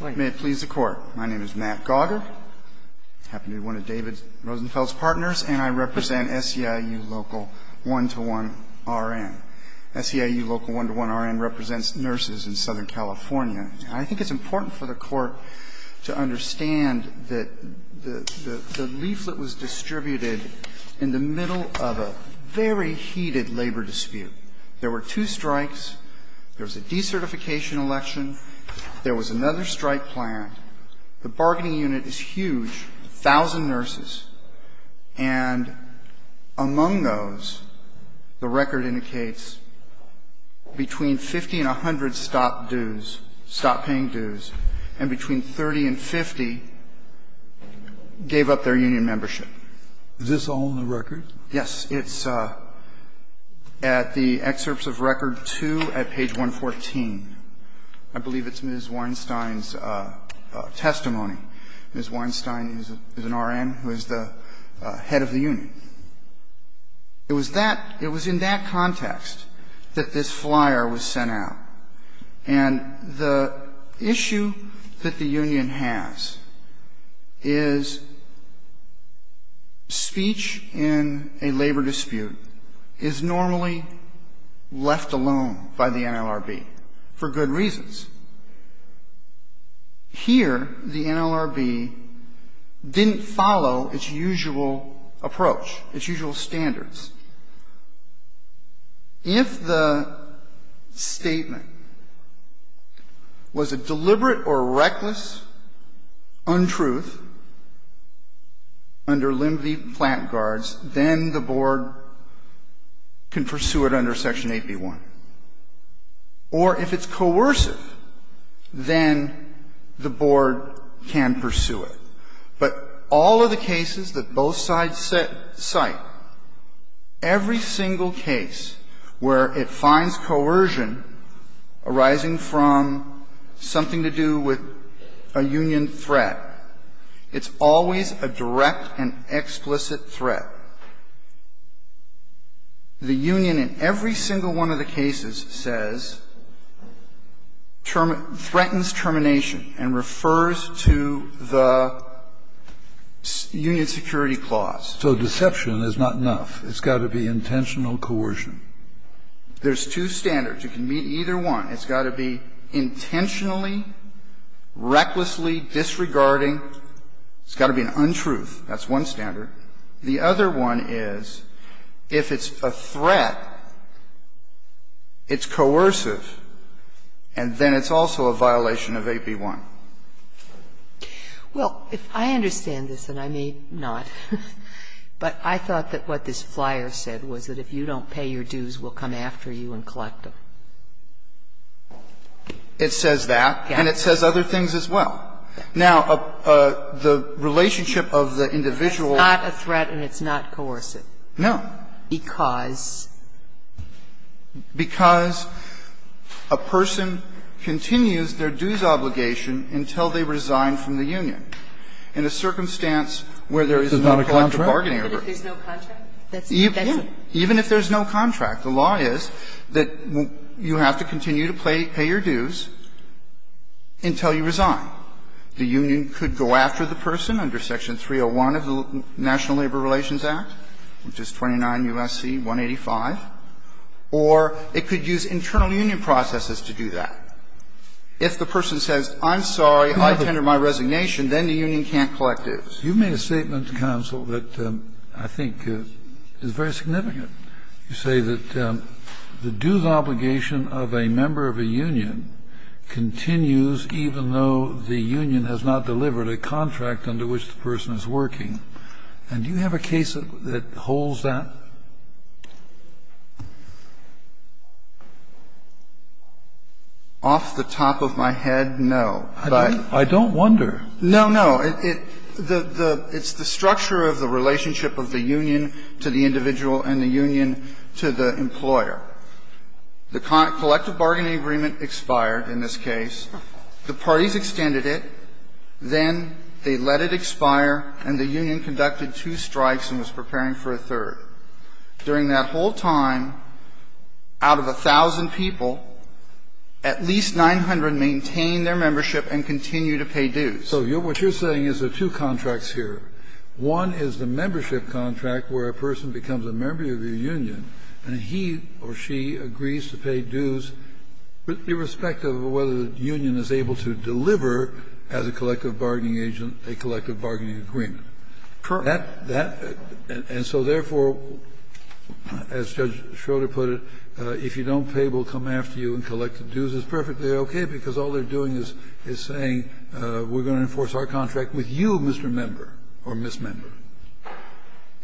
May it please the Court. My name is Matt Gauger. I happen to be one of David Rosenfeld's partners and I represent SEIU Local 1-1 RN. SEIU Local 1-1 RN represents nurses in Southern California. I think it's important for the Court to understand that the leaflet was distributed in the middle of a very heated labor dispute. There were two strikes. There was a decertification election. There was another strike planned. The bargaining unit is huge, a thousand nurses, and among those, the record indicates between 50 and 100 stopped dues, stopped paying dues, and between 30 and 50 gave up their union membership. Is this all in the record? Yes. It's at the excerpts of record 2 at page 114. I believe it's Ms. Weinstein's testimony. Ms. Weinstein is an RN who is the head of the union. It was that, it was in that context that this flyer was sent out. And the issue that the union has is speech in a labor dispute is normally left alone by the NLRB for good reasons. Here, the NLRB didn't follow its usual approach, its usual standards. If the statement was a deliberate or reckless untruth under Limvey-Platt guards, then the board can pursue it under Section 8b-1. Or if it's coercive, then the board can pursue it. But all of the cases that both sides cite, every single case where it finds coercion arising from something to do with a union threat, it's always a direct and explicit threat. The union in every single one of the cases says, threatens termination and refers to the union security clause. So deception is not enough. It's got to be intentional coercion. There's two standards. You can meet either one. It's got to be intentionally, recklessly disregarding. It's got to be an untruth. That's one standard. The other one is, if it's a threat, it's coercive, and then it's also a violation of 8b-1. Well, if I understand this, and I may not, but I thought that what this flyer said was that if you don't pay your dues, we'll come after you and collect them. It says that. And it says other things as well. Now, the relationship of the individual. It's not a threat and it's not coercive. No. Because? Because a person continues their dues obligation until they resign from the union. In a circumstance where there is no collective bargaining order. Even if there's no contract? Even if there's no contract. The law is that you have to continue to pay your dues until you resign. The union could go after the person under Section 301 of the National Labor Relations Act, which is 29 U.S.C. 185, or it could use internal union processes to do that. If the person says, I'm sorry, I tender my resignation, then the union can't collect dues. You made a statement to counsel that I think is very significant. You say that the dues obligation of a member of a union continues even though the union has not delivered a contract under which the person is working. And do you have a case that holds that? Off the top of my head, no. I don't wonder. No, no. It's the structure of the relationship of the union to the individual and the union to the employer. The collective bargaining agreement expired in this case. The parties extended it. Then they let it expire and the union conducted two strikes and was preparing for a third. During that whole time, out of 1,000 people, at least 900 maintained their membership and continue to pay dues. So what you're saying is there are two contracts here. One is the membership contract where a person becomes a member of your union and he or she agrees to pay dues, irrespective of whether the union is able to deliver as a collective bargaining agent a collective bargaining agreement. That and so therefore, as Judge Schroeder put it, if you don't pay, we'll come after you and collect the dues is perfectly okay, because all they're doing is saying we're going to enforce our contract with you, Mr. Member or Ms. Member.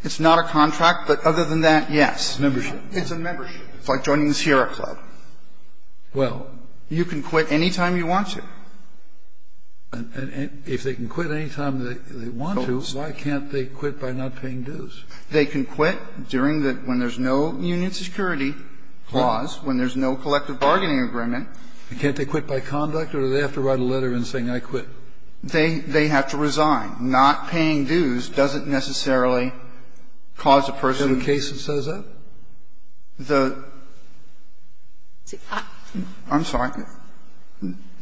It's not a contract, but other than that, yes. It's a membership. It's like joining the Sierra Club. Well, you can quit any time you want to. And if they can quit any time they want to, why can't they quit by not paying dues? They can quit during the ñ when there's no union security clause, when there's no collective bargaining agreement. Can't they quit by conduct or do they have to write a letter and say, I quit? They have to resign. Not paying dues doesn't necessarily cause a person ñ Is there a case that says that? The ñ I'm sorry.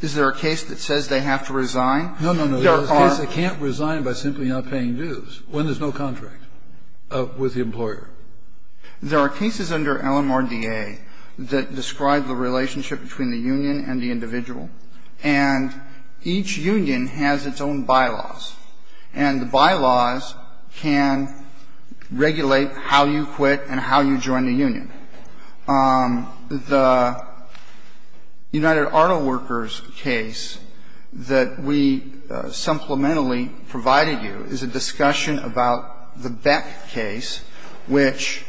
Is there a case that says they have to resign? No, no, no. There are ñ There are cases they can't resign by simply not paying dues when there's no contract with the employer. There are cases under LMRDA that describe the relationship between the union and the individual, and each union has its own bylaws, and the bylaws can regulate how you join the union. The United Auto Workers case that we supplementally provided you is a discussion about the Beck case, which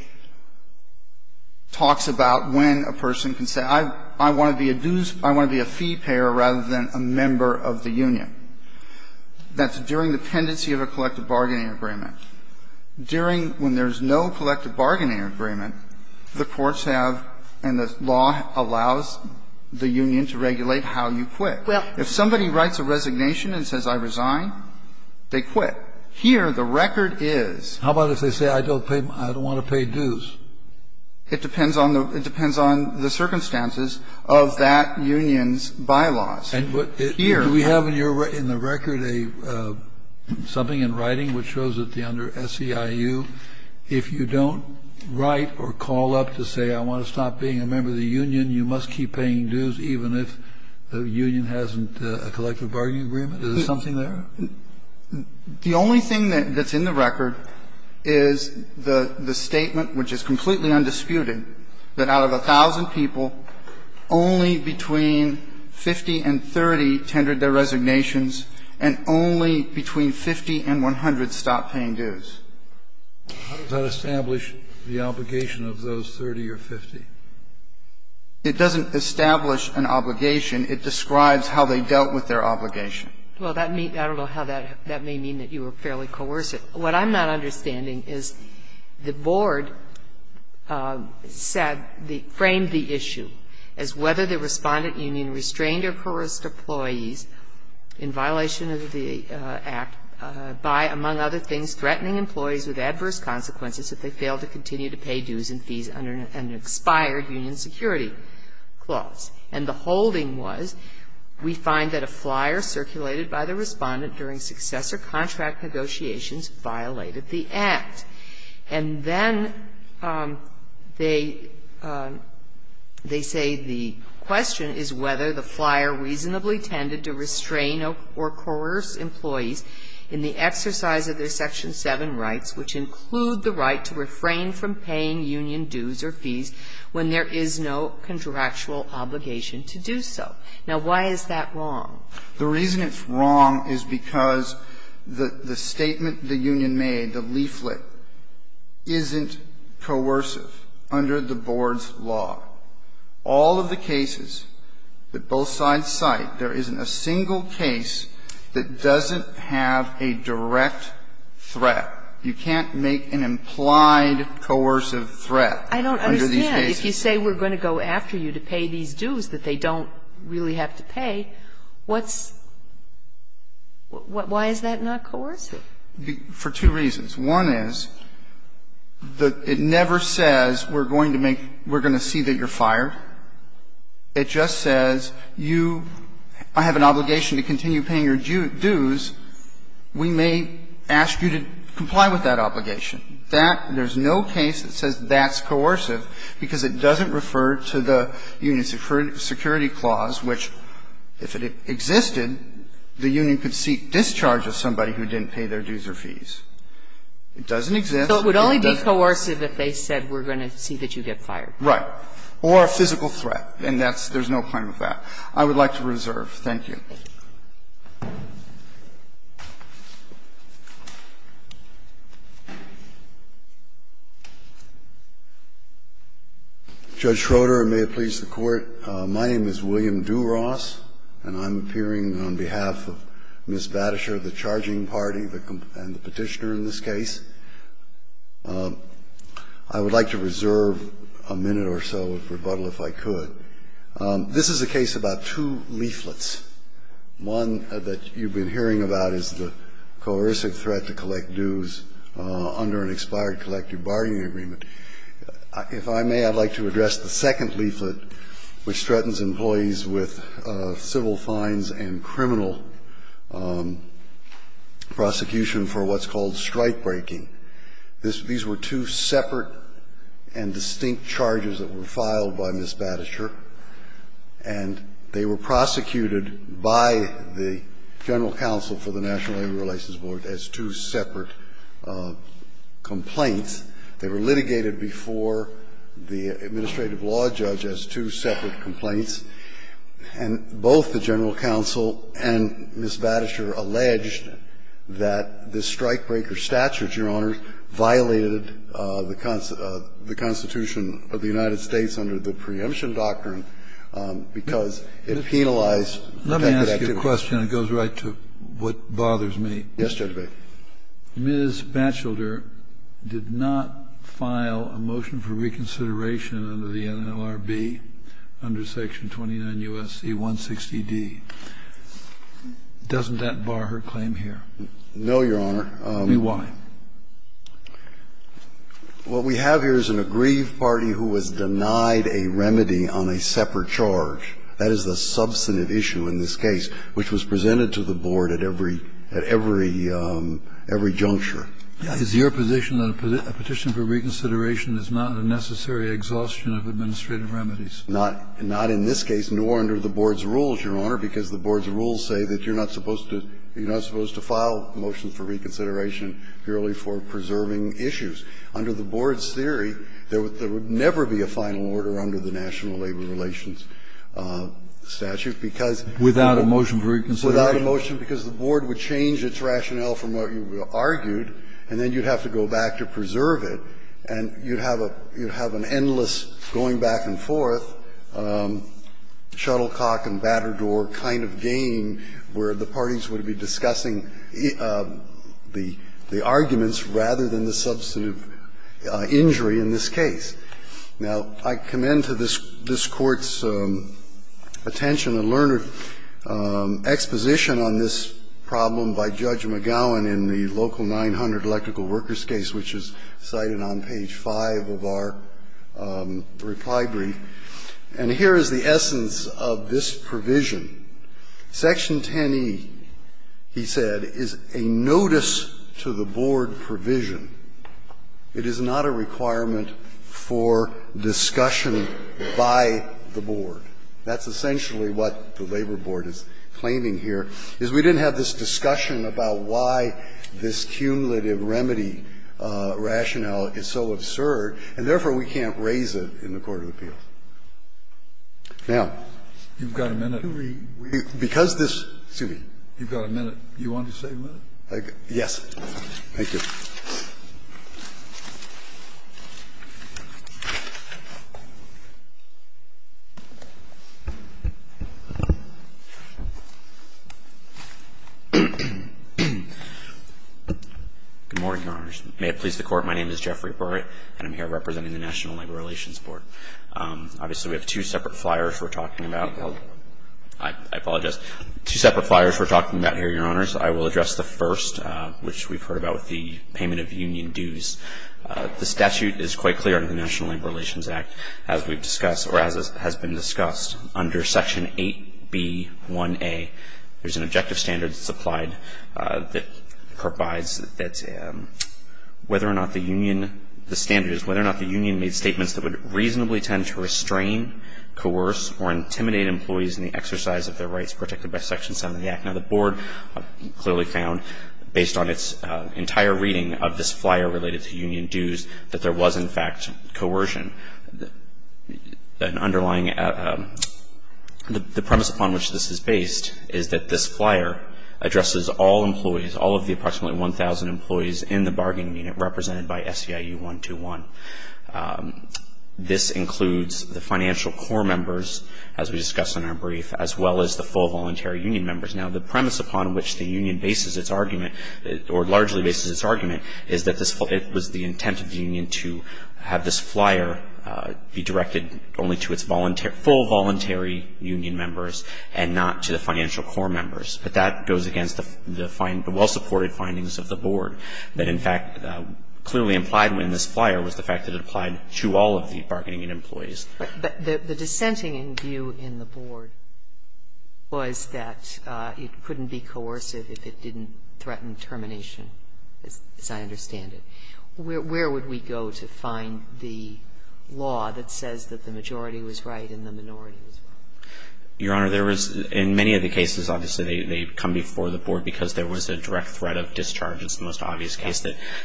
talks about when a person can say, I want to be a dues ñ I want to be a fee payer rather than a member of the union. That's during the pendency of a collective bargaining agreement. During ñ when there's no collective bargaining agreement, the courts have and the law allows the union to regulate how you quit. If somebody writes a resignation and says, I resign, they quit. Here, the record is ñ How about if they say, I don't pay ñ I don't want to pay dues? It depends on the ñ it depends on the circumstances of that union's bylaws. And what ñ do we have in your ñ in the record a ñ something in writing which shows that under SEIU, if you don't write or call up to say, I want to stop being a member of the union, you must keep paying dues even if the union hasn't ñ a collective bargaining agreement? Is there something there? The only thing that's in the record is the statement, which is completely nondisputed, that out of 1,000 people, only between 50 and 30 tendered their resignations and only between 50 and 100 stopped paying dues. How does that establish the obligation of those 30 or 50? It doesn't establish an obligation. It describes how they dealt with their obligation. Well, that may ñ I don't know how that may mean that you were fairly coercive. What I'm not understanding is the board said the ñ framed the issue as whether the Respondent Union restrained or coerced employees in violation of the Act by, among other things, threatening employees with adverse consequences if they failed to continue to pay dues and fees under an expired union security clause. And the holding was, we find that a flyer circulated by the Respondent during success of contract negotiations violated the Act. And then they say the question is whether the flyer reasonably tended to restrain or coerce employees in the exercise of their Section 7 rights, which include the right to refrain from paying union dues or fees when there is no contractual obligation to do so. Now, why is that wrong? The reason it's wrong is because the statement the union made, the leaflet, isn't coercive under the board's law. All of the cases that both sides cite, there isn't a single case that doesn't have a direct threat. You can't make an implied coercive threat under these cases. I don't understand. If you say we're going to go after you to pay these dues that they don't really have to pay, what's – why is that not coercive? For two reasons. One is that it never says we're going to make – we're going to see that you're fired. It just says you – I have an obligation to continue paying your dues. We may ask you to comply with that obligation. That – there's no case that says that's coercive because it doesn't refer to the union's security clause, which, if it existed, the union could seek discharge of somebody who didn't pay their dues or fees. It doesn't exist. Kagan. So it would only be coercive if they said we're going to see that you get fired. Right. Or a physical threat. And that's – there's no claim of that. I would like to reserve. Thank you. Judge Schroeder, and may it please the Court. My name is William DuRoss, and I'm appearing on behalf of Ms. Battasher, the charging party and the Petitioner in this case. I would like to reserve a minute or so of rebuttal if I could. This is a case about two leaflets. One that you've been hearing about is the coercive threat to collect dues under an expired collective bargaining agreement. If I may, I'd like to address the second leaflet, which threatens employees with civil fines and criminal prosecution for what's called strikebreaking. This – these were two separate and distinct charges that were filed by Ms. Battasher and they were prosecuted by the General Counsel for the National Labor Relations Board as two separate complaints. They were litigated before the administrative law judge as two separate complaints. And both the General Counsel and Ms. Battasher alleged that the strikebreaker statutes, Your Honors, violated the Constitution of the United States under the preemption doctrine because it penalized protected activities. Let me ask you a question that goes right to what bothers me. Yes, Judge Breyer. Ms. Batchelder did not file a motion for reconsideration under the NLRB under Section 29 U.S.C. 160d. Doesn't that bar her claim here? No, Your Honor. Then why? What we have here is an aggrieved party who was denied a remedy on a separate charge. That is the substantive issue in this case, which was presented to the Board at every – at every juncture. Is your position that a petition for reconsideration is not a necessary exhaustion of administrative remedies? Not in this case, nor under the Board's rules, Your Honor, because the Board's rules say that you're not supposed to file motions for reconsideration purely for preserving issues. Under the Board's theory, there would never be a final order under the National Labor Relations statute, because the Board would change its rationale from what you argued, and then you'd have to go back to preserve it, and you'd have a – you'd have an endless going back and forth, shuttlecock and battered door kind of game where the parties would be discussing the arguments rather than the substantive injury in this case. Now, I commend to this Court's attention and learned exposition on this problem by Judge McGowan in the Local 900 Electrical Workers case, which is cited on page 5 of our reply brief, and here is the essence of this provision. Section 10e, he said, is a notice to the Board provision. It is not a requirement for discussion by the Board. That's essentially what the Labor Board is claiming here, is we didn't have this discussion about why this cumulative remedy rationale is so absurd, and therefore we can't raise it in the court of appeals. Now, I'm going to read. Because this – excuse me. You've got a minute. You want to say a minute? Yes. Thank you. Good morning, Your Honors. May it please the Court. My name is Jeffrey Burrett, and I'm here representing the National Labor Relations Board. Obviously, we have two separate flyers we're talking about. I apologize. Two separate flyers we're talking about here, Your Honors. I will address the first, which we've heard about with the payment of union dues. The statute is quite clear in the National Labor Relations Act, as we've discussed or as has been discussed. Under Section 8b1a, there's an objective standard supplied that provides that whether or not the union – the standard is whether or not the union made statements that would reasonably tend to restrain, coerce, or intimidate employees in the exercise of their rights protected by Section 7 of the Act. Now, the Board clearly found, based on its entire reading of this flyer related to union dues, that there was, in fact, coercion. An underlying – the premise upon which this is based is that this flyer addresses all employees, all of the approximately 1,000 employees in the bargaining unit represented by SEIU-121. This includes the financial core members, as we discussed in our brief, as well as the full voluntary union members. Now, the premise upon which the union bases its argument or largely bases its argument is that this was the intent of the union to have this flyer be directed only to its full voluntary union members and not to the financial core members, but that goes against the well-supported findings of the Board that, in fact, clearly implied in this flyer was the fact that it applied to all of the bargaining unit employees. But the dissenting view in the Board was that it couldn't be coercive if it didn't threaten termination, as I understand it. Where would we go to find the law that says that the majority was right and the minority was wrong? Your Honor, there was – in many of the cases, obviously, they come before the Board because there was a direct threat of discharge. It's the most obvious case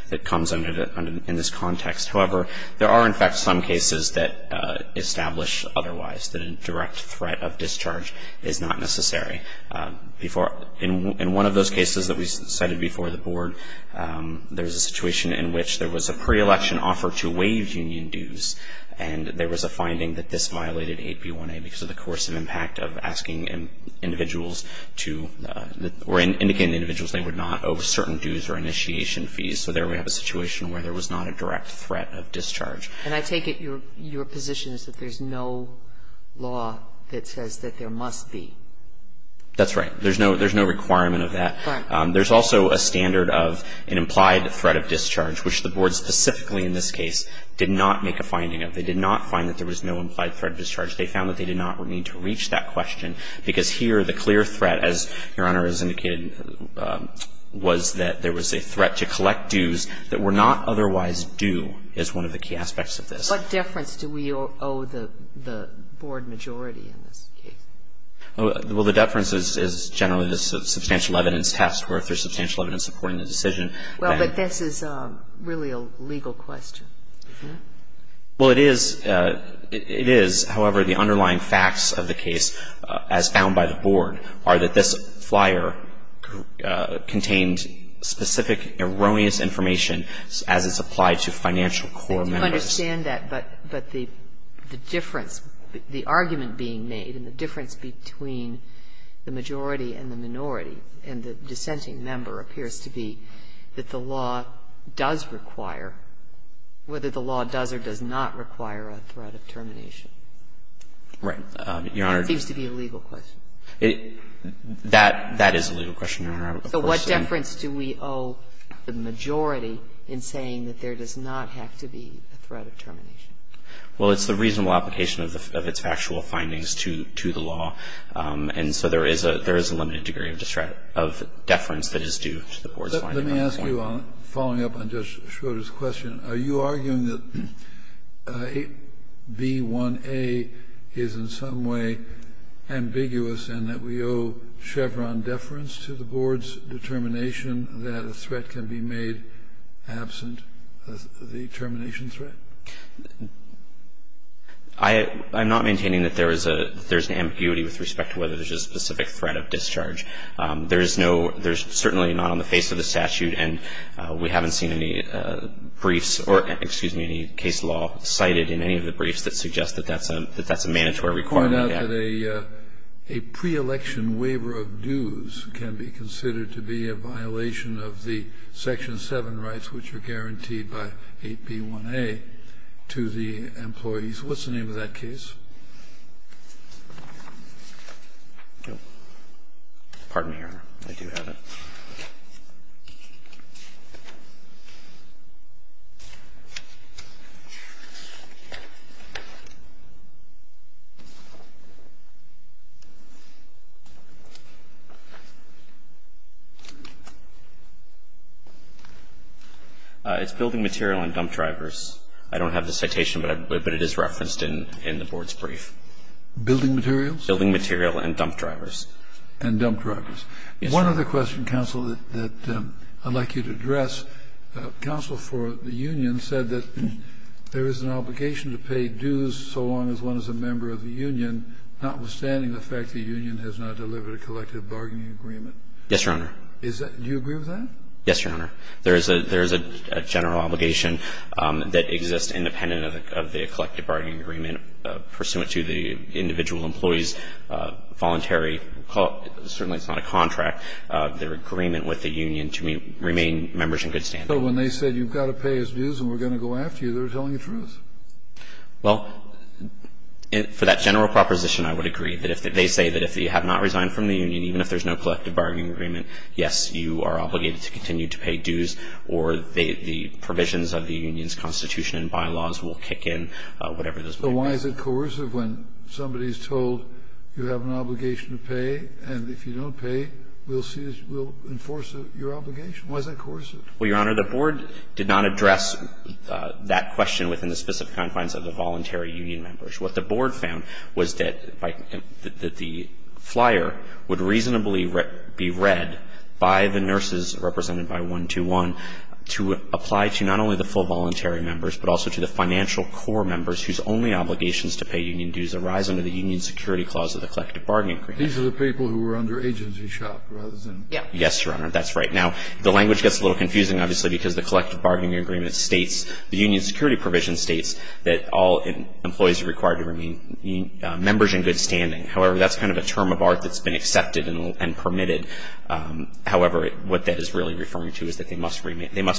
that comes under – in this context. However, there are, in fact, some cases that establish otherwise, that a direct threat of discharge is not necessary. In one of those cases that we cited before the Board, there was a situation in which there was a pre-election offer to waive union dues, and there was a finding that this violated 8b1a because of the coercive impact of asking individuals to – or indicating individuals they would not owe certain dues or initiation fees. So there we have a situation where there was not a direct threat of discharge. And I take it your position is that there's no law that says that there must be. That's right. There's no requirement of that. Right. There's also a standard of an implied threat of discharge, which the Board specifically in this case did not make a finding of. They did not find that there was no implied threat of discharge. They found that they did not need to reach that question, because here the clear threat, as Your Honor has indicated, was that there was a threat to collect dues that were not otherwise due, is one of the key aspects of this. What deference do we owe the Board majority in this case? Well, the deference is generally the substantial evidence test, where if there's substantial evidence supporting the decision, then you have to owe the Board majority. Well, but this is really a legal question, isn't it? Well, it is. It is. However, the underlying facts of the case, as found by the Board, are that this flyer contained specific erroneous information as it's applied to financial core members. I don't understand that, but the difference, the argument being made and the difference between the majority and the minority and the dissenting member appears to be that the law does require, whether the law does or does not require a threat of termination. Right. Your Honor. It seems to be a legal question. That is a legal question, Your Honor. So what deference do we owe the majority in saying that there does not have to be a threat of termination? Well, it's the reasonable application of its factual findings to the law. And so there is a limited degree of deference that is due to the Board's finding of termination. But let me ask you, following up on Judge Schroeder's question, are you arguing that B1A is in some way ambiguous and that we owe Chevron deference to the Board's determination that a threat can be made absent the termination threat? I'm not maintaining that there is an ambiguity with respect to whether there is a specific threat of discharge. There is no – there is certainly not on the face of the statute, and we haven't seen any briefs or, excuse me, any case law cited in any of the briefs that suggest that that's a mandatory requirement. Let me point out that a pre-election waiver of dues can be considered to be a violation of the Section 7 rights, which are guaranteed by 8B1A, to the employees. What's the name of that case? Pardon me, Your Honor. I do have it. It's Building Material and Dump Drivers. I don't have the citation, but it is referenced in the Board's brief. Building Materials? Building Material and Dump Drivers. And Dump Drivers. One other question, counsel, that I'd like you to address. Counsel for the union said that there is an obligation to pay dues so long as one is a member of the union, notwithstanding the fact the union has not delivered a collective bargaining agreement. Yes, Your Honor. Do you agree with that? Yes, Your Honor. There is a general obligation that exists independent of the collective bargaining agreement pursuant to the individual employee's voluntary – certainly it's not a contract – their agreement with the union to remain members in good standing. So when they said you've got to pay us dues and we're going to go after you, they're telling the truth? Well, for that general proposition, I would agree. They say that if you have not resigned from the union, even if there's no collective bargaining agreement, yes, you are obligated to continue to pay dues, or the provisions of the union's constitution and bylaws will kick in, whatever those may be. So why is it coercive when somebody is told you have an obligation to pay, and if you don't pay, we'll enforce your obligation? Why is that coercive? Well, Your Honor, the board did not address that question within the specific confines of the voluntary union members. What the board found was that the flyer would reasonably be read by the nurses, represented by 121, to apply to not only the full voluntary members, but also to the financial core members whose only obligations to pay union dues arise under the union security clause of the collective bargaining agreement. These are the people who are under agency shop rather than union security? Yes, Your Honor, that's right. Now, the language gets a little confusing, obviously, because the collective bargaining agreement states, the union security provision states that all employees are required to remain members in good standing. However, that's kind of a term of art that's been accepted and permitted. However, what that is really referring to is that they must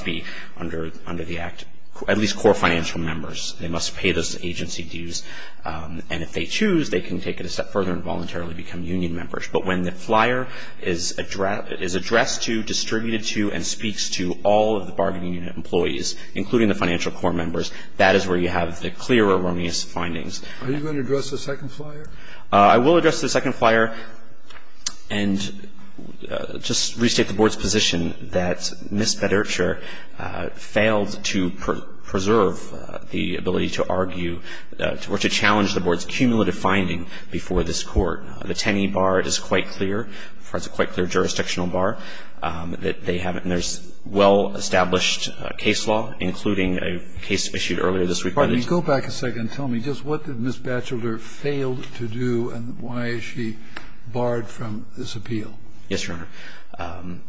be under the act, at least core financial members. They must pay those agency dues, and if they choose, they can take it a step further and voluntarily become union members. But when the flyer is addressed to, distributed to, and speaks to all of the bargaining unit employees, including the financial core members, that is where you have the clear erroneous findings. Are you going to address the second flyer? I will address the second flyer and just restate the board's position that Ms. Bedurcher failed to preserve the ability to argue or to challenge the board's cumulative findings before this Court. The Tenney bar is quite clear. It's a quite clear jurisdictional bar that they haven't. And there's well-established case law, including a case issued earlier this week by the district. Go back a second and tell me, just what did Ms. Batchelder fail to do and why is she barred from this appeal? Yes, Your Honor.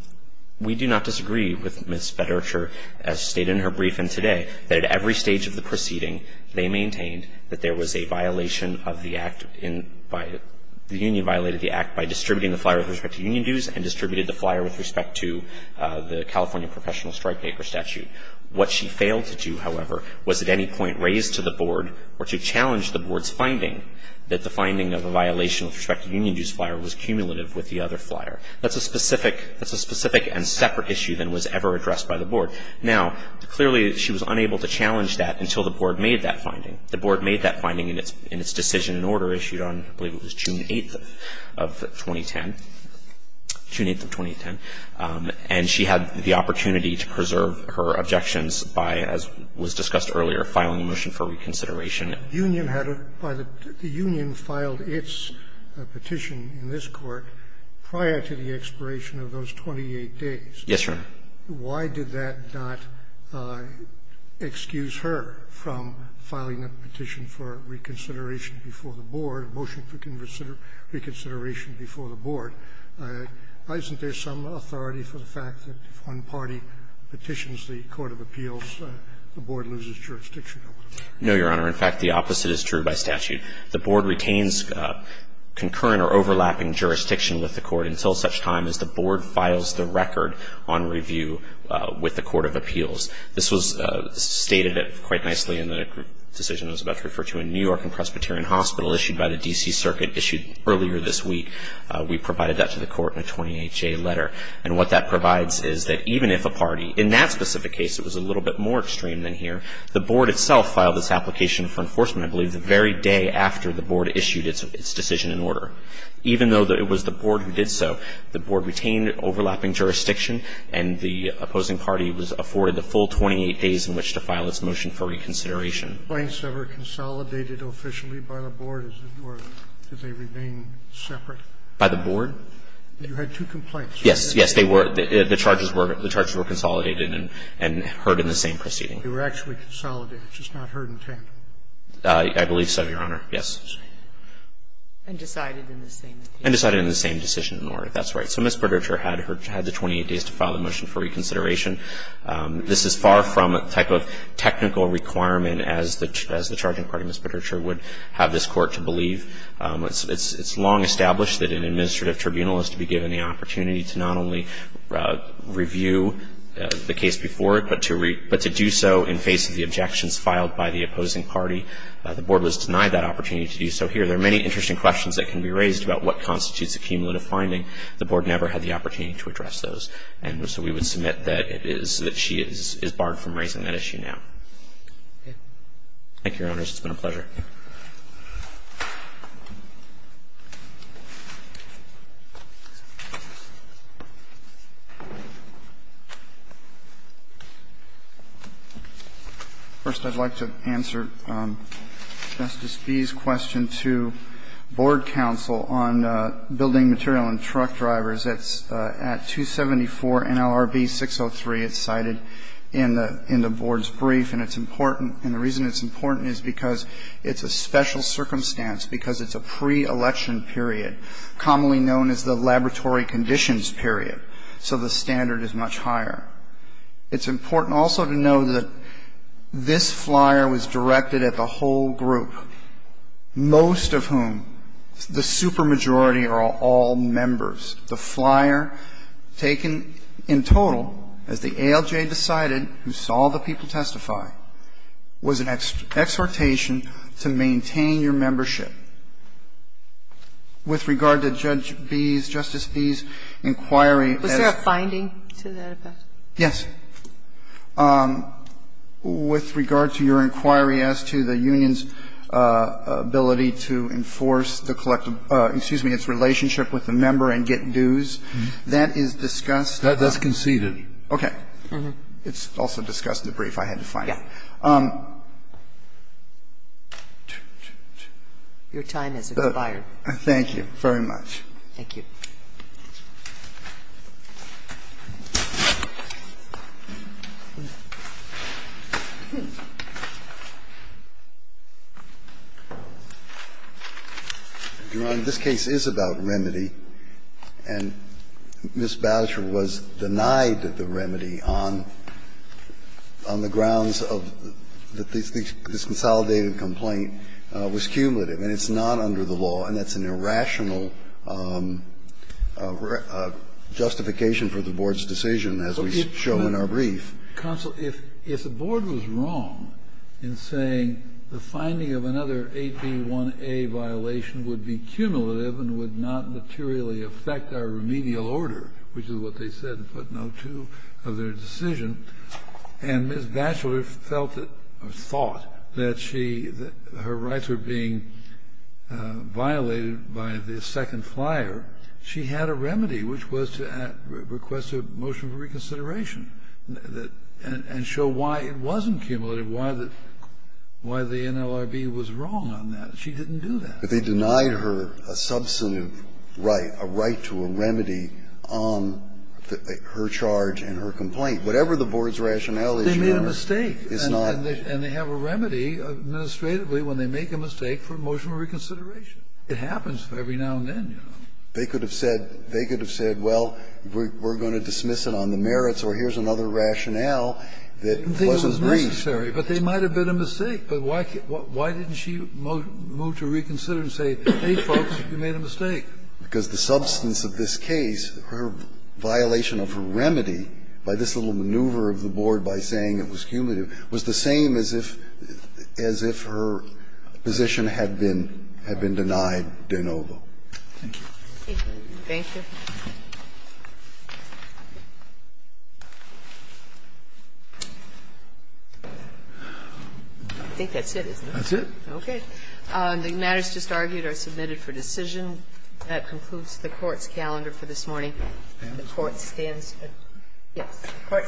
We do not disagree with Ms. Bedurcher, as stated in her brief and today, that at every stage of the proceeding, they maintained that there was a violation of the act in by the union violated the act by distributing the flyer with respect to union dues and distributed the flyer with respect to the California professional strike paper statute. What she failed to do, however, was at any point raise to the board or to challenge the board's finding that the finding of a violation with respect to union dues flyer was cumulative with the other flyer. That's a specific, that's a specific and separate issue than was ever addressed by the board. Now, clearly, she was unable to challenge that until the board made that finding. The board made that finding in its decision in order issued on, I believe it was June 8th of 2010, June 8th of 2010, and she had the opportunity to preserve her objections by, as was discussed earlier, filing a motion for reconsideration. The union had a by the union filed its petition in this court prior to the expiration of those 28 days. Yes, Your Honor. Why did that not excuse her from filing a petition for reconsideration before the board, a motion for reconsideration before the board? Isn't there some authority for the fact that if one party petitions the court of appeals, the board loses jurisdiction over them? No, Your Honor. In fact, the opposite is true by statute. The board retains concurrent or overlapping jurisdiction with the court until such time as the board files the record on review with the court of appeals. This was stated quite nicely in the decision I was about to refer to in New York and Presbyterian Hospital issued by the D.C. Circuit issued earlier this week. We provided that to the court in a 28-day letter. And what that provides is that even if a party, in that specific case, it was a little bit more extreme than here, the board itself filed this application for enforcement, I believe, the very day after the board issued its decision in order. Even though it was the board who did so, the board retained overlapping jurisdiction and the opposing party was afforded the full 28 days in which to file its motion for reconsideration. Scalia. Complaints that were consolidated officially by the board, or did they remain separate? By the board? You had two complaints. Yes. Yes, they were. The charges were consolidated and heard in the same proceeding. They were actually consolidated, just not heard in tandem? I believe so, Your Honor. Yes. And decided in the same decision? And decided in the same decision in order. That's right. So Ms. Bredercher had her 28 days to file the motion for reconsideration. This is far from the type of technical requirement as the charging party, Ms. Bredercher, would have this Court to believe. It's long established that an administrative tribunal is to be given the opportunity to not only review the case before it, but to do so in face of the objections filed by the opposing party. The board was denied that opportunity to do so here. There are many interesting questions that can be raised about what constitutes a cumulative finding. The board never had the opportunity to address those. And so we would submit that it is that she is barred from raising that issue now. It's been a pleasure. First, I'd like to answer Justice Bee's question to Board counsel on building material on truck drivers. It's at 274 NLRB 603. It's cited in the board's brief. And it's important. It's a case that's been studied in the past. It's a special circumstance because it's a pre-election period, commonly known as the laboratory conditions period. So the standard is much higher. It's important also to know that this flyer was directed at the whole group, most of whom, the supermajority are all members. The flyer taken in total, as the ALJ decided, who saw the people testify, was an exhortation to maintain your membership with regard to Judge Bee's, Justice Bee's inquiry. Was there a finding to that effect? Yes. With regard to your inquiry as to the union's ability to enforce the collective ‑‑ excuse me, its relationship with the member and get dues, that is discussed. That's conceded. Okay. It's also discussed in the brief I had to find. Yes. Your time has expired. Thank you very much. Thank you. Your Honor, this case is about remedy, and Ms. Badger was denied the remedy on the grounds that this consolidated complaint was cumulative, and it's not under the law, and that's an irrational justification for the Board's decision, as we show in our brief. Counsel, if the Board was wrong in saying the finding of another 8B1A violation would be cumulative and would not materially affect our remedial order, which is what they said and put no to of their decision, and Ms. Badger felt or thought that she ‑‑ her rights were being violated by the second flyer, she had a remedy, which was to request a motion for reconsideration and show why it wasn't cumulative, why the NLRB was wrong on that. She didn't do that. They denied her a substantive right, a right to a remedy on her charge and her complaint. Whatever the Board's rationale is, Your Honor, it's not ‑‑ They made a mistake, and they have a remedy administratively when they make a mistake for a motion for reconsideration. It happens every now and then, you know. They could have said ‑‑ they could have said, well, we're going to dismiss it on the merits, or here's another rationale that wasn't brief. But why didn't she move to reconsider and say, hey, folks, you made a mistake? Because the substance of this case, her violation of her remedy by this little maneuver of the Board by saying it was cumulative, was the same as if her position had been denied de novo. Thank you. Thank you. I think that's it, isn't it? That's it. Okay. The matters just argued are submitted for decision. That concludes the Court's calendar for this morning. The Court stands ‑‑ yes. The Court stands adjourned.